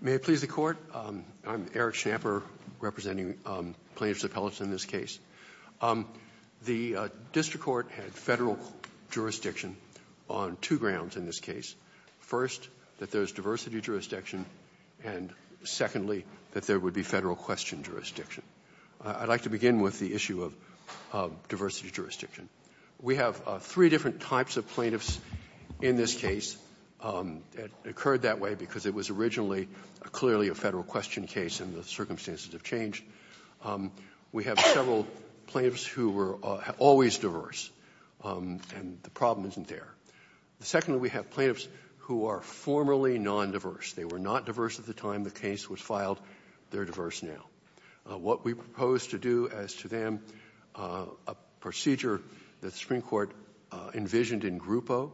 May it please the Court, I'm Eric Schnapper representing plaintiffs' appellates in this case. The district court had federal jurisdiction on two grounds in this case. First, that there is diversity jurisdiction, and secondly, that there would be federal question jurisdiction. I'd like to begin with the issue of diversity jurisdiction. We have three different types of plaintiffs in this case. It occurred that way because it was originally clearly a federal question case, and the circumstances have changed. We have several plaintiffs who were always diverse, and the problem isn't there. Secondly, we have plaintiffs who are formerly non-diverse. They were not diverse at the time the case was filed. They're diverse now. What we propose to do as to them, a procedure that the Supreme Court envisioned in Grupo,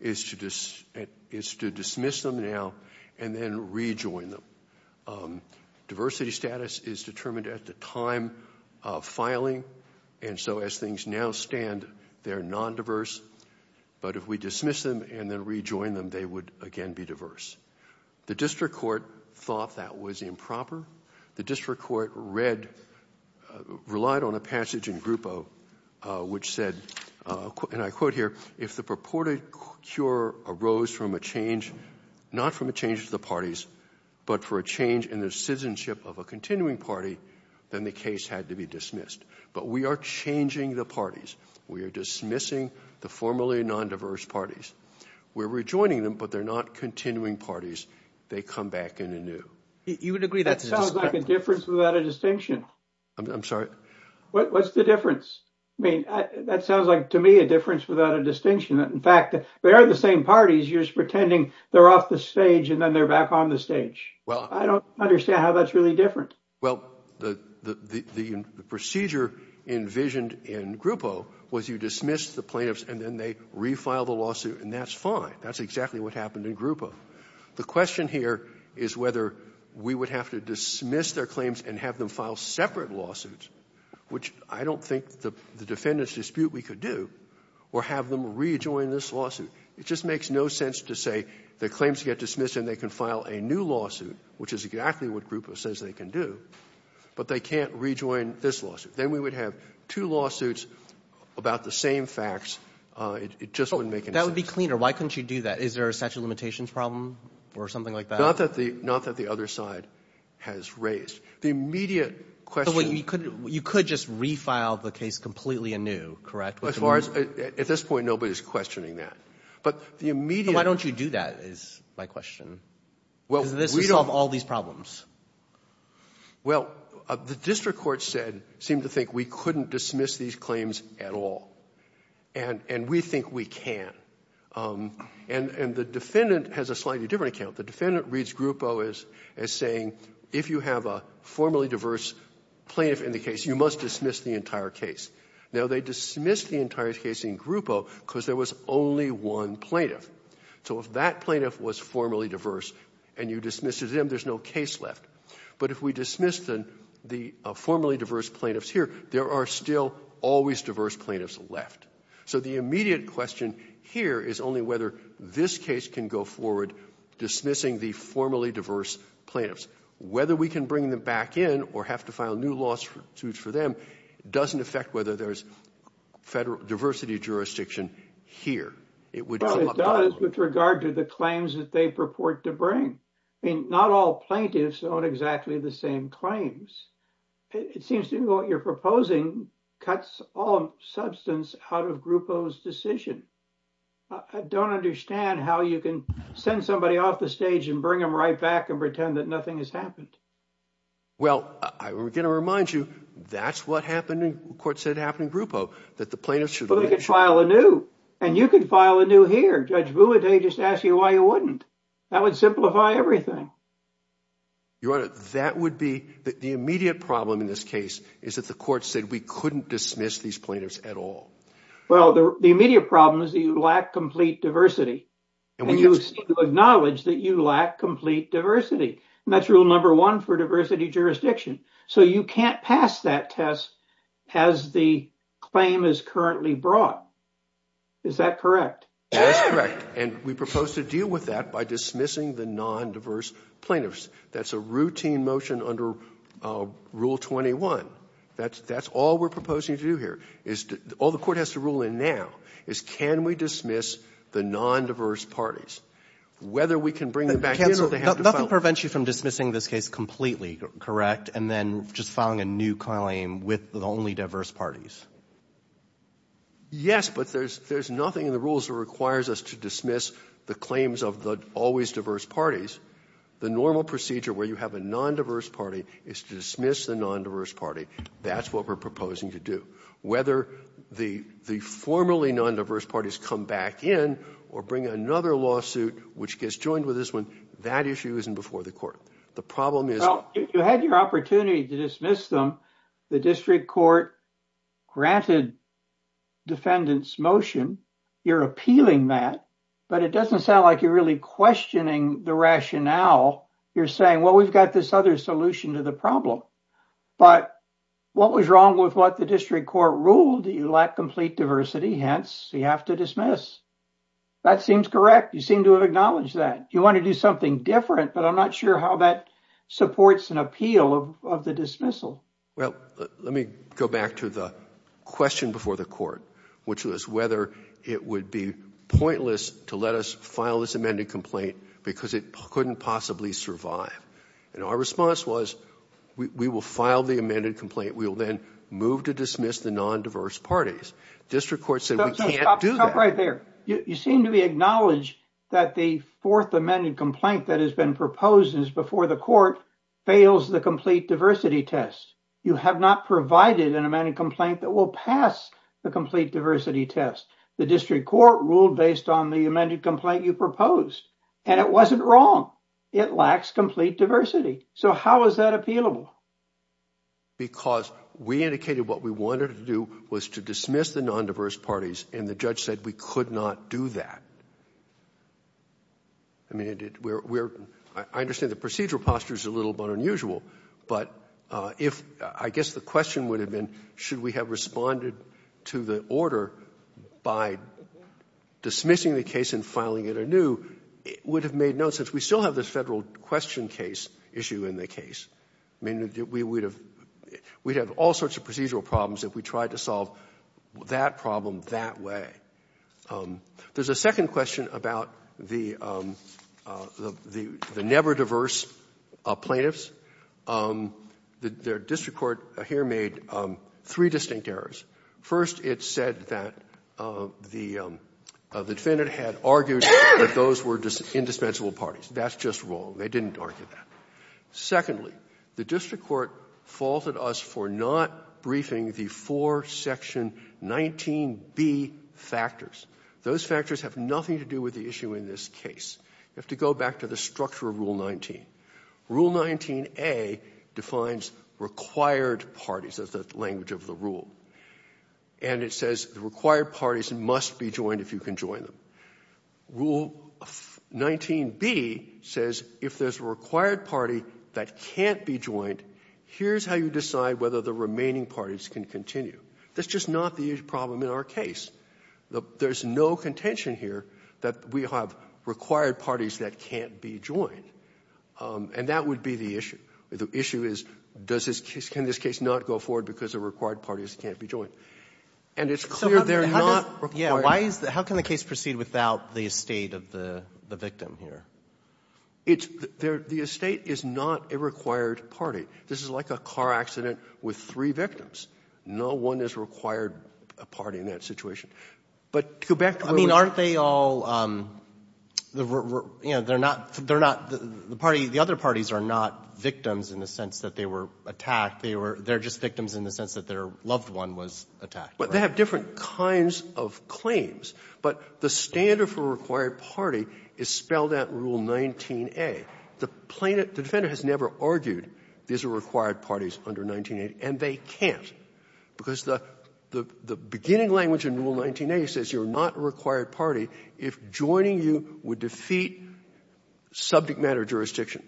is to dismiss them now and then rejoin them. Diversity status is determined at the time of filing, and so as things now stand, they're non-diverse, but if we dismiss them and then rejoin them, they would again be diverse. The district court thought that was improper. The district court read, relied on a passage in Grupo which said, and I quote here, if the purported cure arose from a change, not from a change of the parties, but for a change in the citizenship of a continuing party, then the case had to be dismissed. But we are changing the parties. We are dismissing the formerly non-diverse parties. We're rejoining them, but they're not continuing parties. They come back in anew. You would agree that sounds like a difference without a distinction. I'm sorry? What's the difference? I mean, that sounds like, to me, a difference without a distinction. In fact, they are the same parties. You're just pretending they're off the stage and then they're back on the stage. I don't understand how that's really different. Well, the procedure envisioned in Grupo was you dismiss the plaintiffs and then they re-file the lawsuit, and that's fine. That's exactly what happened in Grupo. The question here is whether we would have to dismiss their claims and have them file separate lawsuits, which I don't think the defendants dispute we could do, or have them rejoin this lawsuit. It just makes no sense to say the claims get dismissed and they can file a new lawsuit, which is exactly what Grupo says they can do, but they can't rejoin this lawsuit. Then we would have two lawsuits about the same facts. It just wouldn't make any sense. That would be cleaner. Why couldn't you do that? Is there a statute of limitations problem or something like that? Not that the other side has raised. The immediate question — You could just re-file the case completely anew, correct? As far as — at this point, nobody's questioning that. But the immediate — Why don't you do that, is my question? Because this would solve all these problems. Well, the district court said — seemed to think we couldn't dismiss these claims at all. And we think we can. And the defendant has a slightly different account. The defendant reads Grupo as saying, if you have a formally diverse plaintiff in the case, you must dismiss the entire case. Now, they dismissed the entire case in Grupo because there was only one plaintiff. So if that plaintiff was formally diverse, and you dismiss it, then there's no case left. But if we dismiss the formerly diverse plaintiffs here, there are still always diverse plaintiffs left. So the immediate question here is only whether this case can go forward dismissing the formerly diverse plaintiffs. Whether we can bring them back in or have to file new lawsuits for them doesn't affect whether there's federal diversity jurisdiction here. It would — It does with regard to the claims that they purport to bring. I mean, not all plaintiffs own exactly the same claims. It seems to me what you're proposing cuts all substance out of Grupo's decision. I don't understand how you can send somebody off the stage and bring them right back and pretend that nothing has happened. Well, I'm going to remind you, that's what happened in — the court said it happened in Grupo, that the plaintiffs should — Well, they could file anew. And you could file anew here. Judge Buhode just asked you why you wouldn't. That would simplify everything. Your Honor, that would be — the immediate problem in this case is that the court said we couldn't dismiss these plaintiffs at all. Well, the immediate problem is that you lack complete diversity. And you seem to acknowledge that you lack complete diversity. And that's rule number one for diversity brought. Is that correct? That's correct. And we propose to deal with that by dismissing the non-diverse plaintiffs. That's a routine motion under Rule 21. That's all we're proposing to do here. All the court has to rule in now is can we dismiss the non-diverse parties? Whether we can bring them back — Nothing prevents you from dismissing this case completely, correct? And then just filing a new claim with the only diverse parties? Yes, but there's nothing in the rules that requires us to dismiss the claims of the always diverse parties. The normal procedure where you have a non-diverse party is to dismiss the non-diverse party. That's what we're proposing to do. Whether the formerly non-diverse parties come back in or bring another lawsuit which gets joined with this one, that issue isn't before the court. The problem is — You had your opportunity to dismiss them. The district court granted defendants' motion. You're appealing that. But it doesn't sound like you're really questioning the rationale. You're saying, well, we've got this other solution to the problem. But what was wrong with what the district court ruled? You lack complete diversity. Hence, you have to dismiss. That seems correct. You seem to acknowledge that. You want to do something different, but I'm not sure how that supports an appeal of the dismissal. Well, let me go back to the question before the court, which was whether it would be pointless to let us file this amended complaint because it couldn't possibly survive. And our response was, we will file the amended complaint. We will then move to dismiss the non-diverse parties. District court said we can't do that. You seem to acknowledge that the fourth amended complaint that has been proposed is before the court fails the complete diversity test. You have not provided an amended complaint that will pass the complete diversity test. The district court ruled based on the amended complaint you proposed. And it wasn't wrong. It lacks complete diversity. So how is that appealable? Because we indicated what we wanted to do was to dismiss the non-diverse parties. And the judge said we could not do that. I mean, I understand the procedural posture is a little bit unusual, but I guess the question would have been, should we have responded to the order by dismissing the case and filing it anew? It would have made sense. We still have this Federal question case issue in the case. I mean, we would have all sorts of procedural problems if we tried to solve that problem that way. There's a second question about the never-diverse plaintiffs. The district court here made three distinct errors. First, it said that the defendant had argued that those were indispensable parties. That's just wrong. They didn't argue that. Secondly, the district court faulted us for not briefing the four Section 19B factors. Those factors have nothing to do with the issue in this case. You have to go back to the structure of Rule 19. Rule 19A defines required parties. That's the language of the rule. And it says the required parties must be joined if you can join them. Rule 19B says if there's a required party that can't be joined, here's how you decide whether the remaining parties can continue. That's just not the problem in our case. There's no contention here that we have required parties that can't be joined. And that would be the issue. The issue is, can this case not go forward because the required parties can't be joined? And it's clear they're not required. How can the case proceed without the estate of the victim here? It's the estate is not a required party. This is like a car accident with three victims. No one is required a party in that situation. But to go back to where we were. I mean, aren't they all, you know, they're not the party, the other They're just victims in the sense that their loved one was attacked. But they have different kinds of claims. But the standard for required party is spelled out in Rule 19A. The defendant has never argued these are required parties under 19A, and they can't, because the beginning language in Rule 19A says you're not a required party if joining you would defeat subject matter jurisdiction.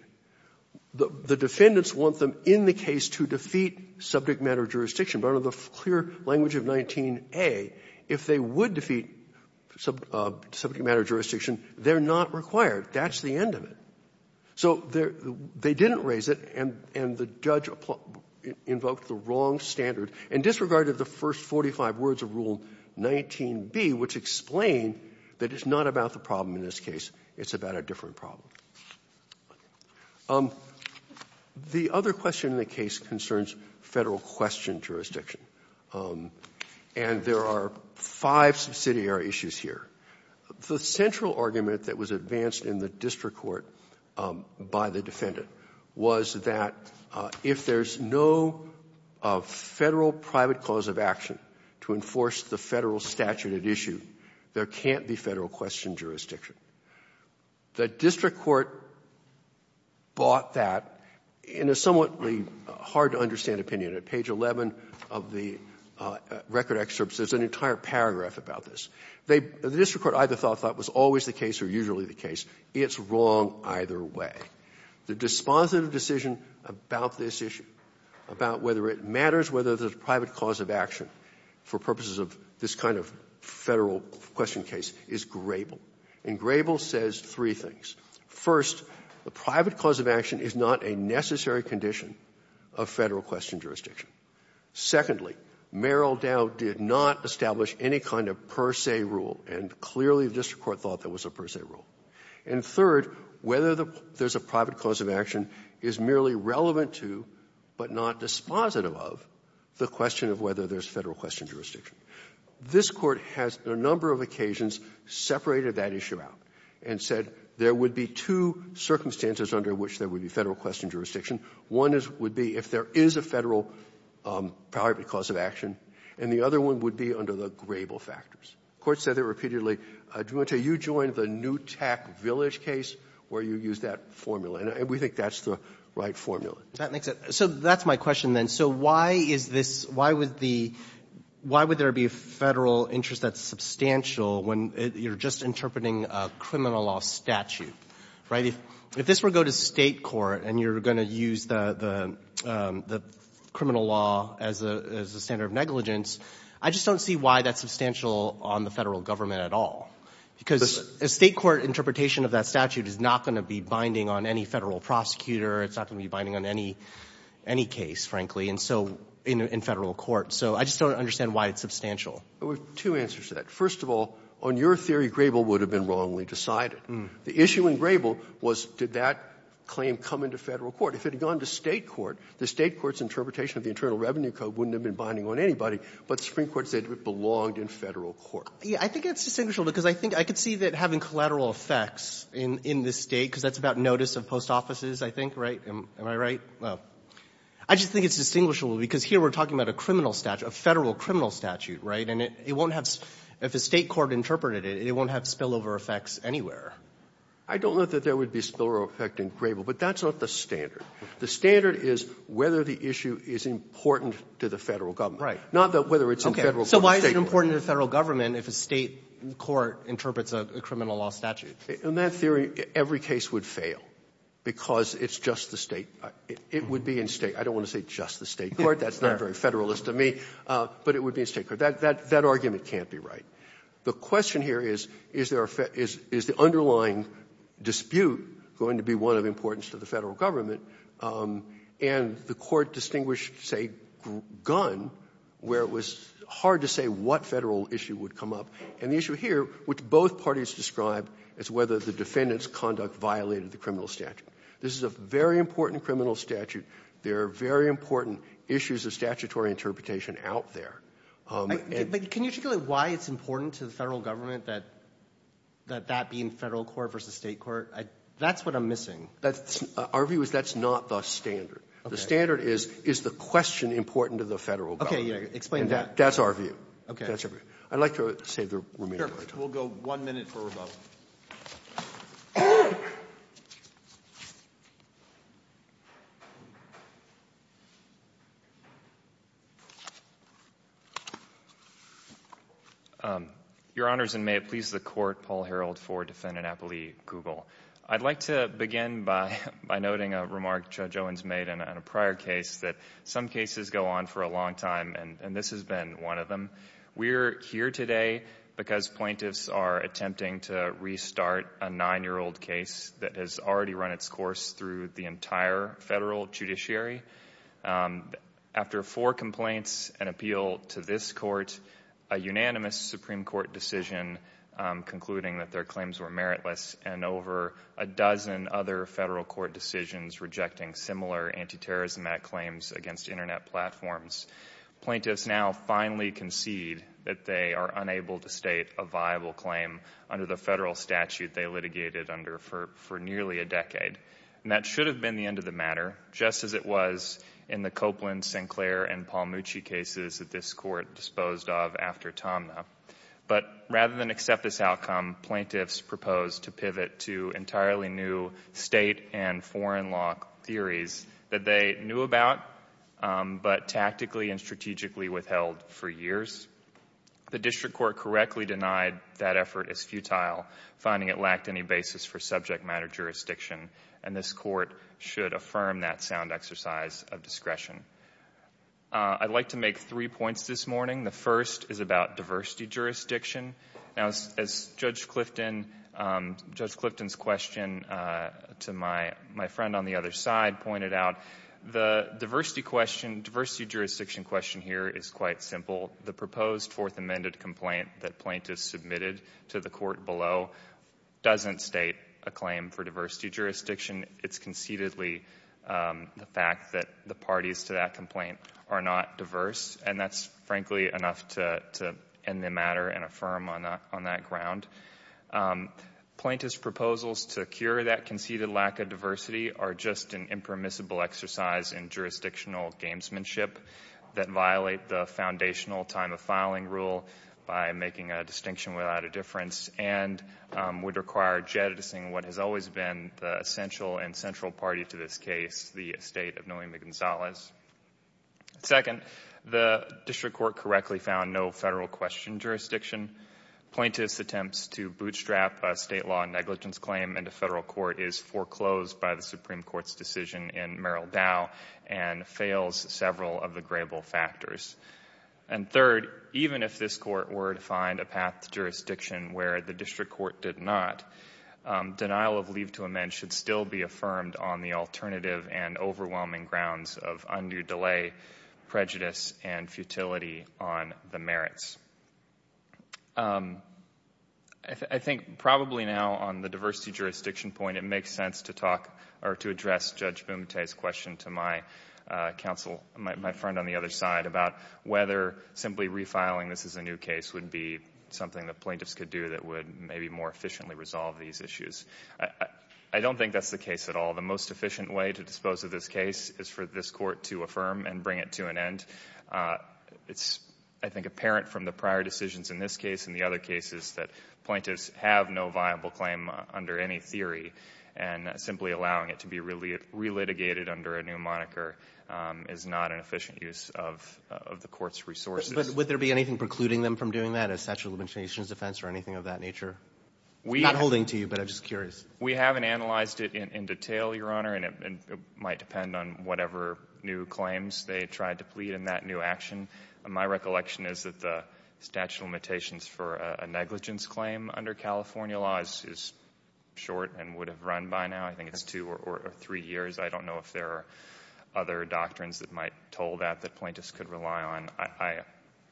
The defendants want them in the case to defeat subject matter jurisdiction. But under the clear language of 19A, if they would defeat subject matter jurisdiction, they're not required. That's the end of it. So they didn't raise it, and the judge invoked the wrong standard and disregarded the first 45 words of Rule 19B, which explained that it's not about the problem in this case. It's about a different problem. The other question in the case concerns Federal question jurisdiction. And there are five subsidiary issues here. The central argument that was advanced in the district court by the defendant was that if there's no Federal private cause of action to enforce the Federal statute at issue, there can't be Federal question jurisdiction. The district court bought that in a somewhat hard-to-understand opinion. At page 11 of the record excerpts, there's an entire paragraph about this. The district court either thought that was always the case or usually the case. It's wrong either way. The dispositive decision about this issue, about whether it matters, whether there's a private cause of action for purposes of this kind of Federal question case, is grable. And grable says three things. First, the private cause of action is not a necessary condition of Federal question jurisdiction. Secondly, Merrill Dow did not establish any kind of per se rule, and clearly the district court thought that was a per se rule. And third, whether there's a private cause of action is merely relevant to, but not dispositive of, the question of whether there's Federal question jurisdiction. This Court has, on a number of occasions, separated that issue out and said there would be two circumstances under which there would be Federal question jurisdiction. One would be if there is a Federal private cause of action, and the other one would be under the grable factors. The Court said that repeatedly. You joined the Newtack Village case where you used that formula, and we think that's the right formula. So that's my question, then. So why is this why would the why would there be a Federal interest that's substantial when you're just interpreting a criminal law statute, right? If this were to go to State court and you're going to use the criminal law as a standard of negligence, I just don't see why that's substantial on the Federal government at all, because a State court interpretation of that statute is not going to be binding on any Federal prosecutor, it's not going to be binding on any case, frankly, and so in Federal court. So I just don't understand why it's substantial. Roberts, two answers to that. First of all, on your theory, grable would have been wrongly decided. The issue in grable was did that claim come into Federal court? If it had gone to State court, the State court's interpretation of the Internal Revenue Code wouldn't have been binding on anybody, but the Supreme Court said it belonged in Federal court. I think it's distinguishable, because I think I could see that having collateral effects in this State, because that's about notice of post offices, I think, right? Am I right? Well, I just think it's distinguishable, because here we're talking about a criminal statute, a Federal criminal statute, right? And it won't have, if a State court interpreted it, it won't have spillover effects anywhere. I don't know that there would be spillover effect in grable, but that's not the standard. The standard is whether the issue is important to the Federal government. Right. Not whether it's in Federal court or State court. Okay. So why is it important to the Federal government if a State court interprets a criminal law statute? In that theory, every case would fail, because it's just the State. It would be in State. I don't want to say just the State court. That's not very Federalist of me. But it would be in State court. That argument can't be right. The question here is, is the underlying dispute going to be one of importance to the Federal government, and the Court distinguished, say, Gunn, where it was hard to say what Federal issue would come up, and the issue here, which both parties described, is whether the defendant's conduct violated the criminal statute. This is a very important criminal statute. There are very important issues of statutory interpretation out there. But can you articulate why it's important to the Federal government that that be in Federal court versus State court? That's what I'm missing. Our view is that's not the standard. The standard is, is the question important to the Federal government? Okay. Yeah. Explain that. That's our view. Okay. I'd like to save the remainder of my time. We'll go one minute for rebuttal. Your Honors, and may it please the Court, Paul Harreld for Defendant Appellee Google. I'd like to begin by noting a remark Judge Owens made in a prior case that some cases go on for a long time, and this has been one of them. We're here today because plaintiffs are attempting to restart a nine-year-old case that has already run its course through the entire Federal judiciary. After four complaints and appeal to this court, a unanimous Supreme Court decision concluding that their claims were meritless, and over a dozen other Federal court decisions rejecting similar anti-terrorism claims against Internet platforms. Plaintiffs now finally concede that they are unable to state a viable claim under the Federal statute they litigated under for, for nearly a decade. And that should have been the end of the matter, just as it was in the Copeland, Sinclair, and Palmucci cases that this court disposed of after Tomna. But rather than accept this outcome, plaintiffs proposed to pivot to entirely new state and foreign law theories that they knew about, but tactically and strategically withheld for years. The district court correctly denied that effort is futile, finding it lacked any basis for subject matter jurisdiction, and this court should affirm that sound exercise of discretion. I'd like to make three points this morning. The first is about diversity jurisdiction. Now, as Judge Clifton's question to my friend on the other side pointed out, the diversity question, diversity jurisdiction question here is quite simple. The proposed fourth amended complaint that plaintiffs submitted to the court below doesn't state a claim for diversity jurisdiction. It's conceitedly the fact that the parties to that complaint are not diverse, and that's frankly enough to end the matter and affirm on that ground. Plaintiffs' proposals to cure that conceited lack of diversity are just an impermissible exercise in jurisdictional gamesmanship that violate the foundational time of filing rule by making a distinction without a difference, and would require jettisoning what has always been the essential and central party to this case, the estate of Noemi Gonzalez. Second, the district court correctly found no federal question jurisdiction. Plaintiffs' attempts to bootstrap a state law negligence claim into federal court is foreclosed by the Supreme Court's decision in Merrill Dow and fails several of the grable factors. And third, even if this court were to find a path to jurisdiction where the district court did not, denial of leave to amend should still be affirmed on the alternative and overwhelming grounds of undue delay, prejudice, and futility on the merits. I think probably now on the diversity jurisdiction point, it makes sense to talk or to address Judge Bumate's question to my counsel, my friend on the other side, about whether simply refiling this as a new case would be something that plaintiffs could do that would maybe more efficiently resolve these issues. I don't think that's the case at all. The most efficient way to dispose of this case is for this court to affirm and bring it to an end. It's, I think, apparent from the prior decisions in this case and the other cases that plaintiffs have no viable claim under any theory, and simply allowing it to be relitigated under a new moniker is not an efficient use of the court's resources. But would there be anything precluding them from doing that, a statute of limitations defense or anything of that nature? I'm not holding to you, but I'm just curious. We haven't analyzed it in detail, Your Honor, and it might depend on whatever new claims they tried to plead in that new action. My recollection is that the statute of limitations for a negligence claim under California law is short and would have run by now, I think it's two or three years. I don't know if there are other doctrines that might toll that that plaintiffs could rely on. I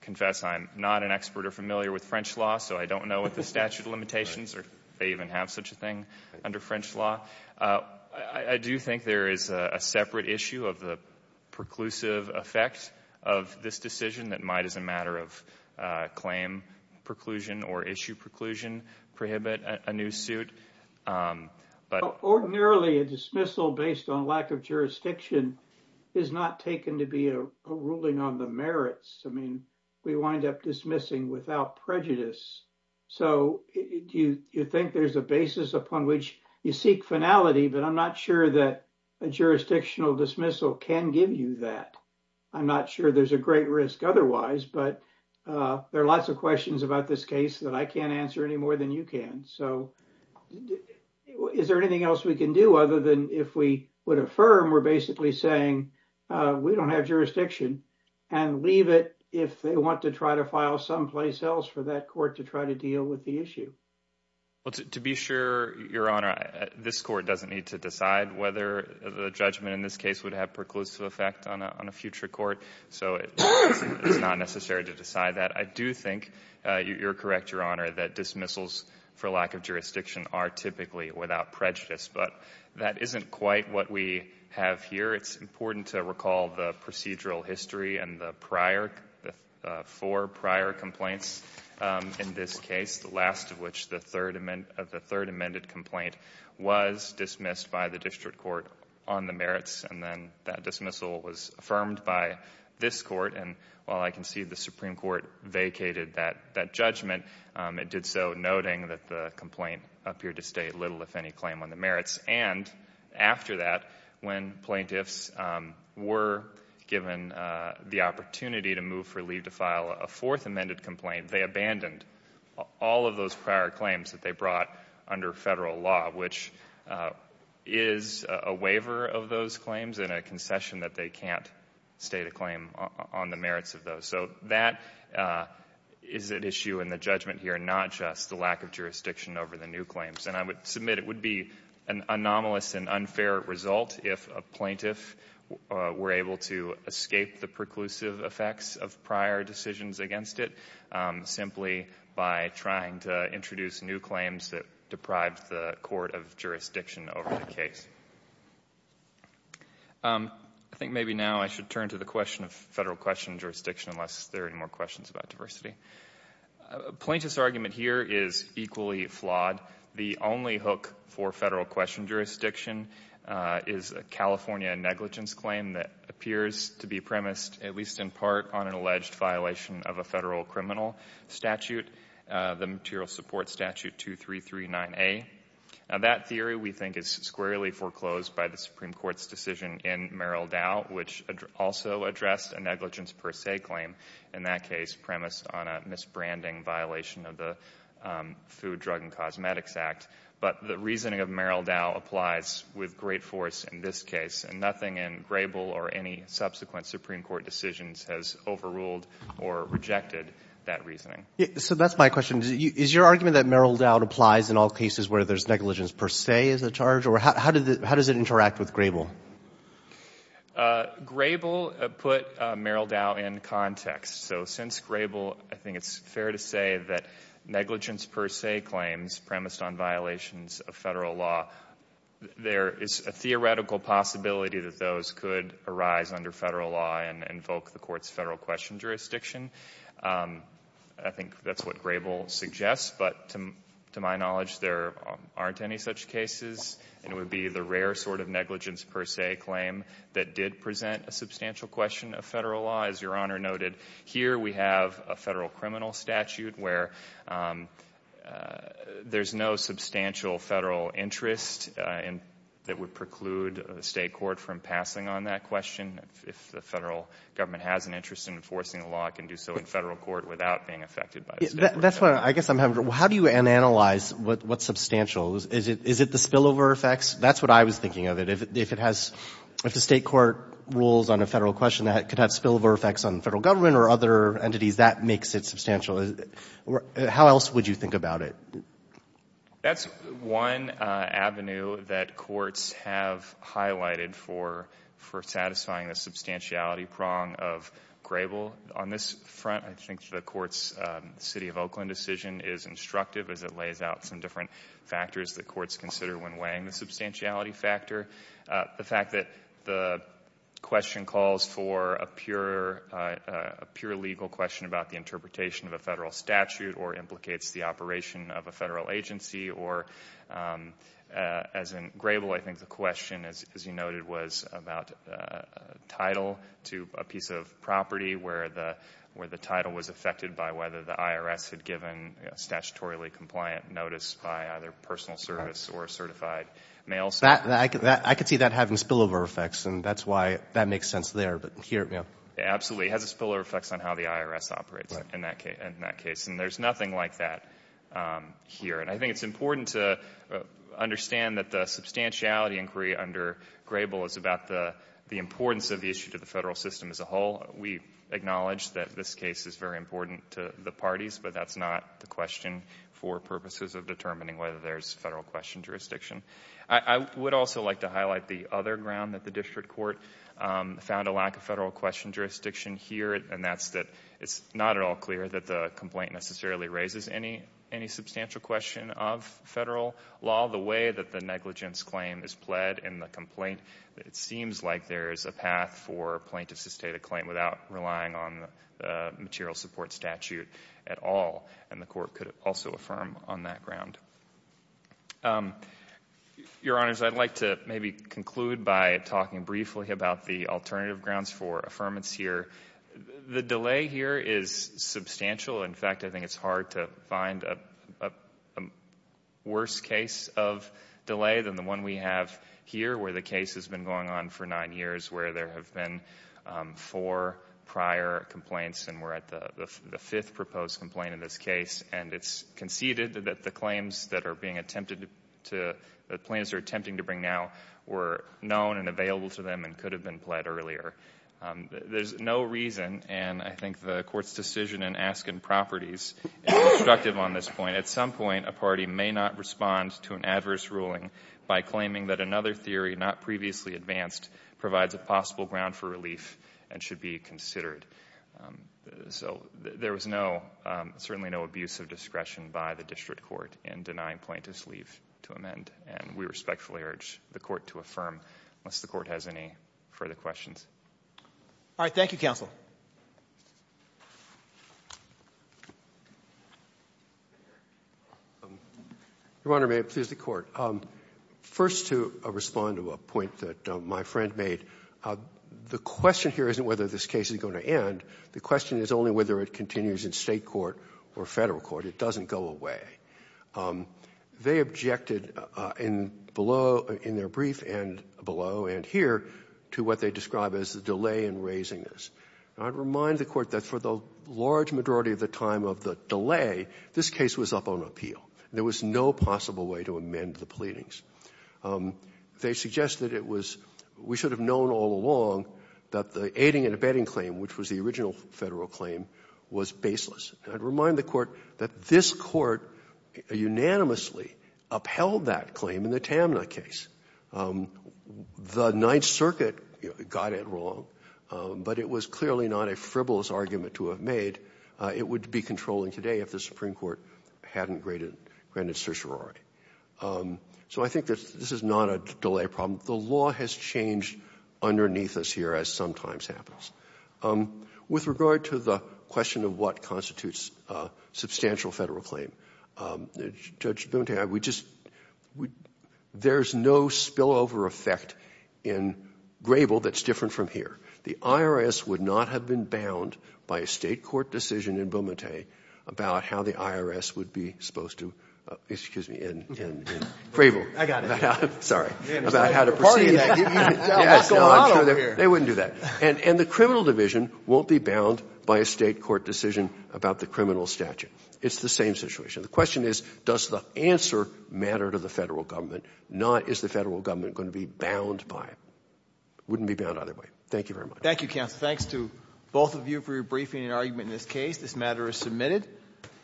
confess I'm not an expert or familiar with French law, so I don't know what the statute of limitations are, if they even have such a thing under French law. I do think there is a separate issue of the preclusive effect of this decision that might, as a matter of claim preclusion or issue preclusion, prohibit a new suit, but... Ordinarily, a dismissal based on lack of jurisdiction is not taken to be a ruling on the merits. I mean, we wind up dismissing without prejudice. So you think there's a basis upon which you seek finality, but I'm not sure that a jurisdictional dismissal can give you that. I'm not sure there's a great risk otherwise, but there are lots of questions about this case that I can't answer any more than you can. So is there anything else we can do other than if we would affirm we're basically saying we don't have jurisdiction and leave it if they want to try to file someplace else for that court to try to deal with the issue? To be sure, Your Honor, this court doesn't need to decide whether the judgment in this case would have preclusive effect on a future court, so it's not necessary to decide that. I do think you're correct, Your Honor, that dismissals for lack of jurisdiction are typically without prejudice, but that isn't quite what we have here. It's important to recall the procedural history and the four prior complaints in this case, the last of which, the third amended complaint, was dismissed by the district court on the merits, and then that dismissal was affirmed by this court, and while I can see the Supreme Court vacated that judgment, it did so noting that the complaint appeared to state little if any claim on the merits. And after that, when plaintiffs were given the opportunity to move for leave to file a fourth amended complaint, they abandoned all of those prior claims that they brought under Federal law, which is a waiver of those claims and a concession that they can't state a claim on the merits of those. So that is at issue in the judgment here, not just the lack of jurisdiction over the new claims. And I would submit it would be an anomalous and unfair result if a plaintiff were able to escape the preclusive effects of prior decisions against it simply by trying to introduce new claims that deprived the court of jurisdiction over the case. I think maybe now I should turn to the question of Federal question jurisdiction unless there are any more questions about diversity. Plaintiff's argument here is equally flawed. The only hook for Federal question jurisdiction is a California negligence claim that appears to be premised, at least in part, on an alleged violation of a Federal criminal statute, the Material Support Statute 2339A. That theory, we think, is squarely foreclosed by the Supreme Court's decision in Merrill Dow, which also addressed a negligence per se claim, in that case premised on a misbranding violation of the Food, Drug, and Cosmetics Act. But the reasoning of Merrill Dow applies with great force in this case, and nothing in Grable or any subsequent Supreme Court decisions has overruled or rejected that reasoning. So that's my question. Is your argument that Merrill Dow applies in all cases where there's negligence per se as a charge, or how does it interact with Grable? Grable put Merrill Dow in context. So since Grable, I think it's fair to say that negligence per se claims premised on violations of Federal law, there is a theoretical possibility that those could arise under Federal law and invoke the Court's Federal question jurisdiction. I think that's what Grable suggests, but to my knowledge, there aren't any such cases. It would be the rare sort of negligence per se claim that did present a substantial question of Federal law. As Your Honor noted, here we have a Federal criminal statute where there's no substantial Federal interest that would preclude the State court from passing on that question. If the Federal government has an interest in enforcing the law, it can do so in Federal court without being affected by the State court. That's what I guess I'm having, how do you analyze what's substantial? Is it the spillover effects? That's what I was thinking of. But if it has, if the State court rules on a Federal question that could have spillover effects on the Federal government or other entities, that makes it substantial. How else would you think about it? That's one avenue that courts have highlighted for satisfying the substantiality prong of Grable. On this front, I think the Court's City of Oakland decision is instructive as it lays out some different factors that courts consider when weighing the substantiality factor. The fact that the question calls for a pure legal question about the interpretation of a Federal statute or implicates the operation of a Federal agency or, as in Grable, I think the question, as you noted, was about title to a piece of property where the title was affected by whether the IRS had given a statutorily compliant notice by either personal service or a certified mail service. I could see that having spillover effects, and that's why that makes sense there. Absolutely. It has a spillover effect on how the IRS operates in that case, and there's nothing like that here. And I think it's important to understand that the substantiality inquiry under Grable is about the importance of the issue to the Federal system as a whole. We acknowledge that this case is very important to the parties, but that's not the question for purposes of determining whether there's Federal question jurisdiction. I would also like to highlight the other ground that the District Court found a lack of Federal question jurisdiction here, and that's that it's not at all clear that the complaint necessarily raises any substantial question of Federal law. The way that the negligence claim is pled in the complaint, it seems like there's a path for plaintiffs to state a claim without relying on the material support statute at all, and the Court could also affirm on that ground. Your Honors, I'd like to maybe conclude by talking briefly about the alternative grounds for affirmance here. The delay here is substantial. In fact, I think it's hard to find a worse case of delay than the one we have here, where the case has been going on for nine years, where there have been four prior complaints and we're at the fifth proposed complaint in this case, and it's conceded that the claims that are being attempted to, the plaintiffs are attempting to bring now, were known and available to them and could have been pled earlier. There's no reason, and I think the Court's decision in asking properties is destructive on this point. At some point, a party may not respond to an adverse ruling by claiming that another theory, not previously advanced, provides a possible ground for relief and should be considered. There was certainly no abuse of discretion by the District Court in denying plaintiffs leave to amend, and we respectfully urge the Court to affirm, unless the Court has any further questions. All right. Thank you, Counsel. Your Honor, may it please the Court. First, to respond to a point that my friend made, the question here isn't whether this case is going to end. The question is only whether it continues in State court or Federal court. It doesn't go away. They objected in below, in their brief, and below and here, to what they describe as the delay in raising this, and I'd remind the Court that for the large majority of the time of the delay, this case was up on appeal. There was no possible way to amend the pleadings. They suggested it was, we should have known all along that the aiding and abetting claim, which was the original Federal claim, was baseless. And I'd remind the Court that this Court unanimously upheld that claim in the Tamna case. The Ninth Circuit got it wrong, but it was clearly not a frivolous argument to have made. It would be controlling today if the Supreme Court hadn't granted certiorari. So I think this is not a delay problem. The law has changed underneath us here, as sometimes happens. With regard to the question of what constitutes substantial Federal claim, Judge Bunting, there's no spillover effect in Grable that's different from here. The IRS would not have been bound by a State court decision in Beaumontay about how the IRS would be supposed to, excuse me, in Grable. I got it. Sorry. About how to proceed. What's going on up here? No, I'm sure they wouldn't do that. And the criminal division won't be bound by a State court decision about the criminal statute. It's the same situation. The question is, does the answer matter to the Federal government, not is the Federal government going to be bound by it? It wouldn't be bound either way. Thank you very much. Thank you, counsel. Thanks to both of you for your briefing and argument in this case. This matter is submitted.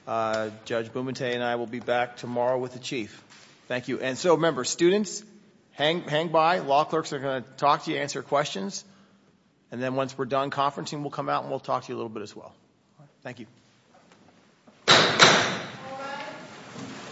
Judge Bunting and I will be back tomorrow with the Chief. Thank you. And so, members, students, hang by. Law clerks are going to talk to you, answer questions. And then once we're done conferencing, we'll come out and we'll talk to you a little bit as well. Thank you.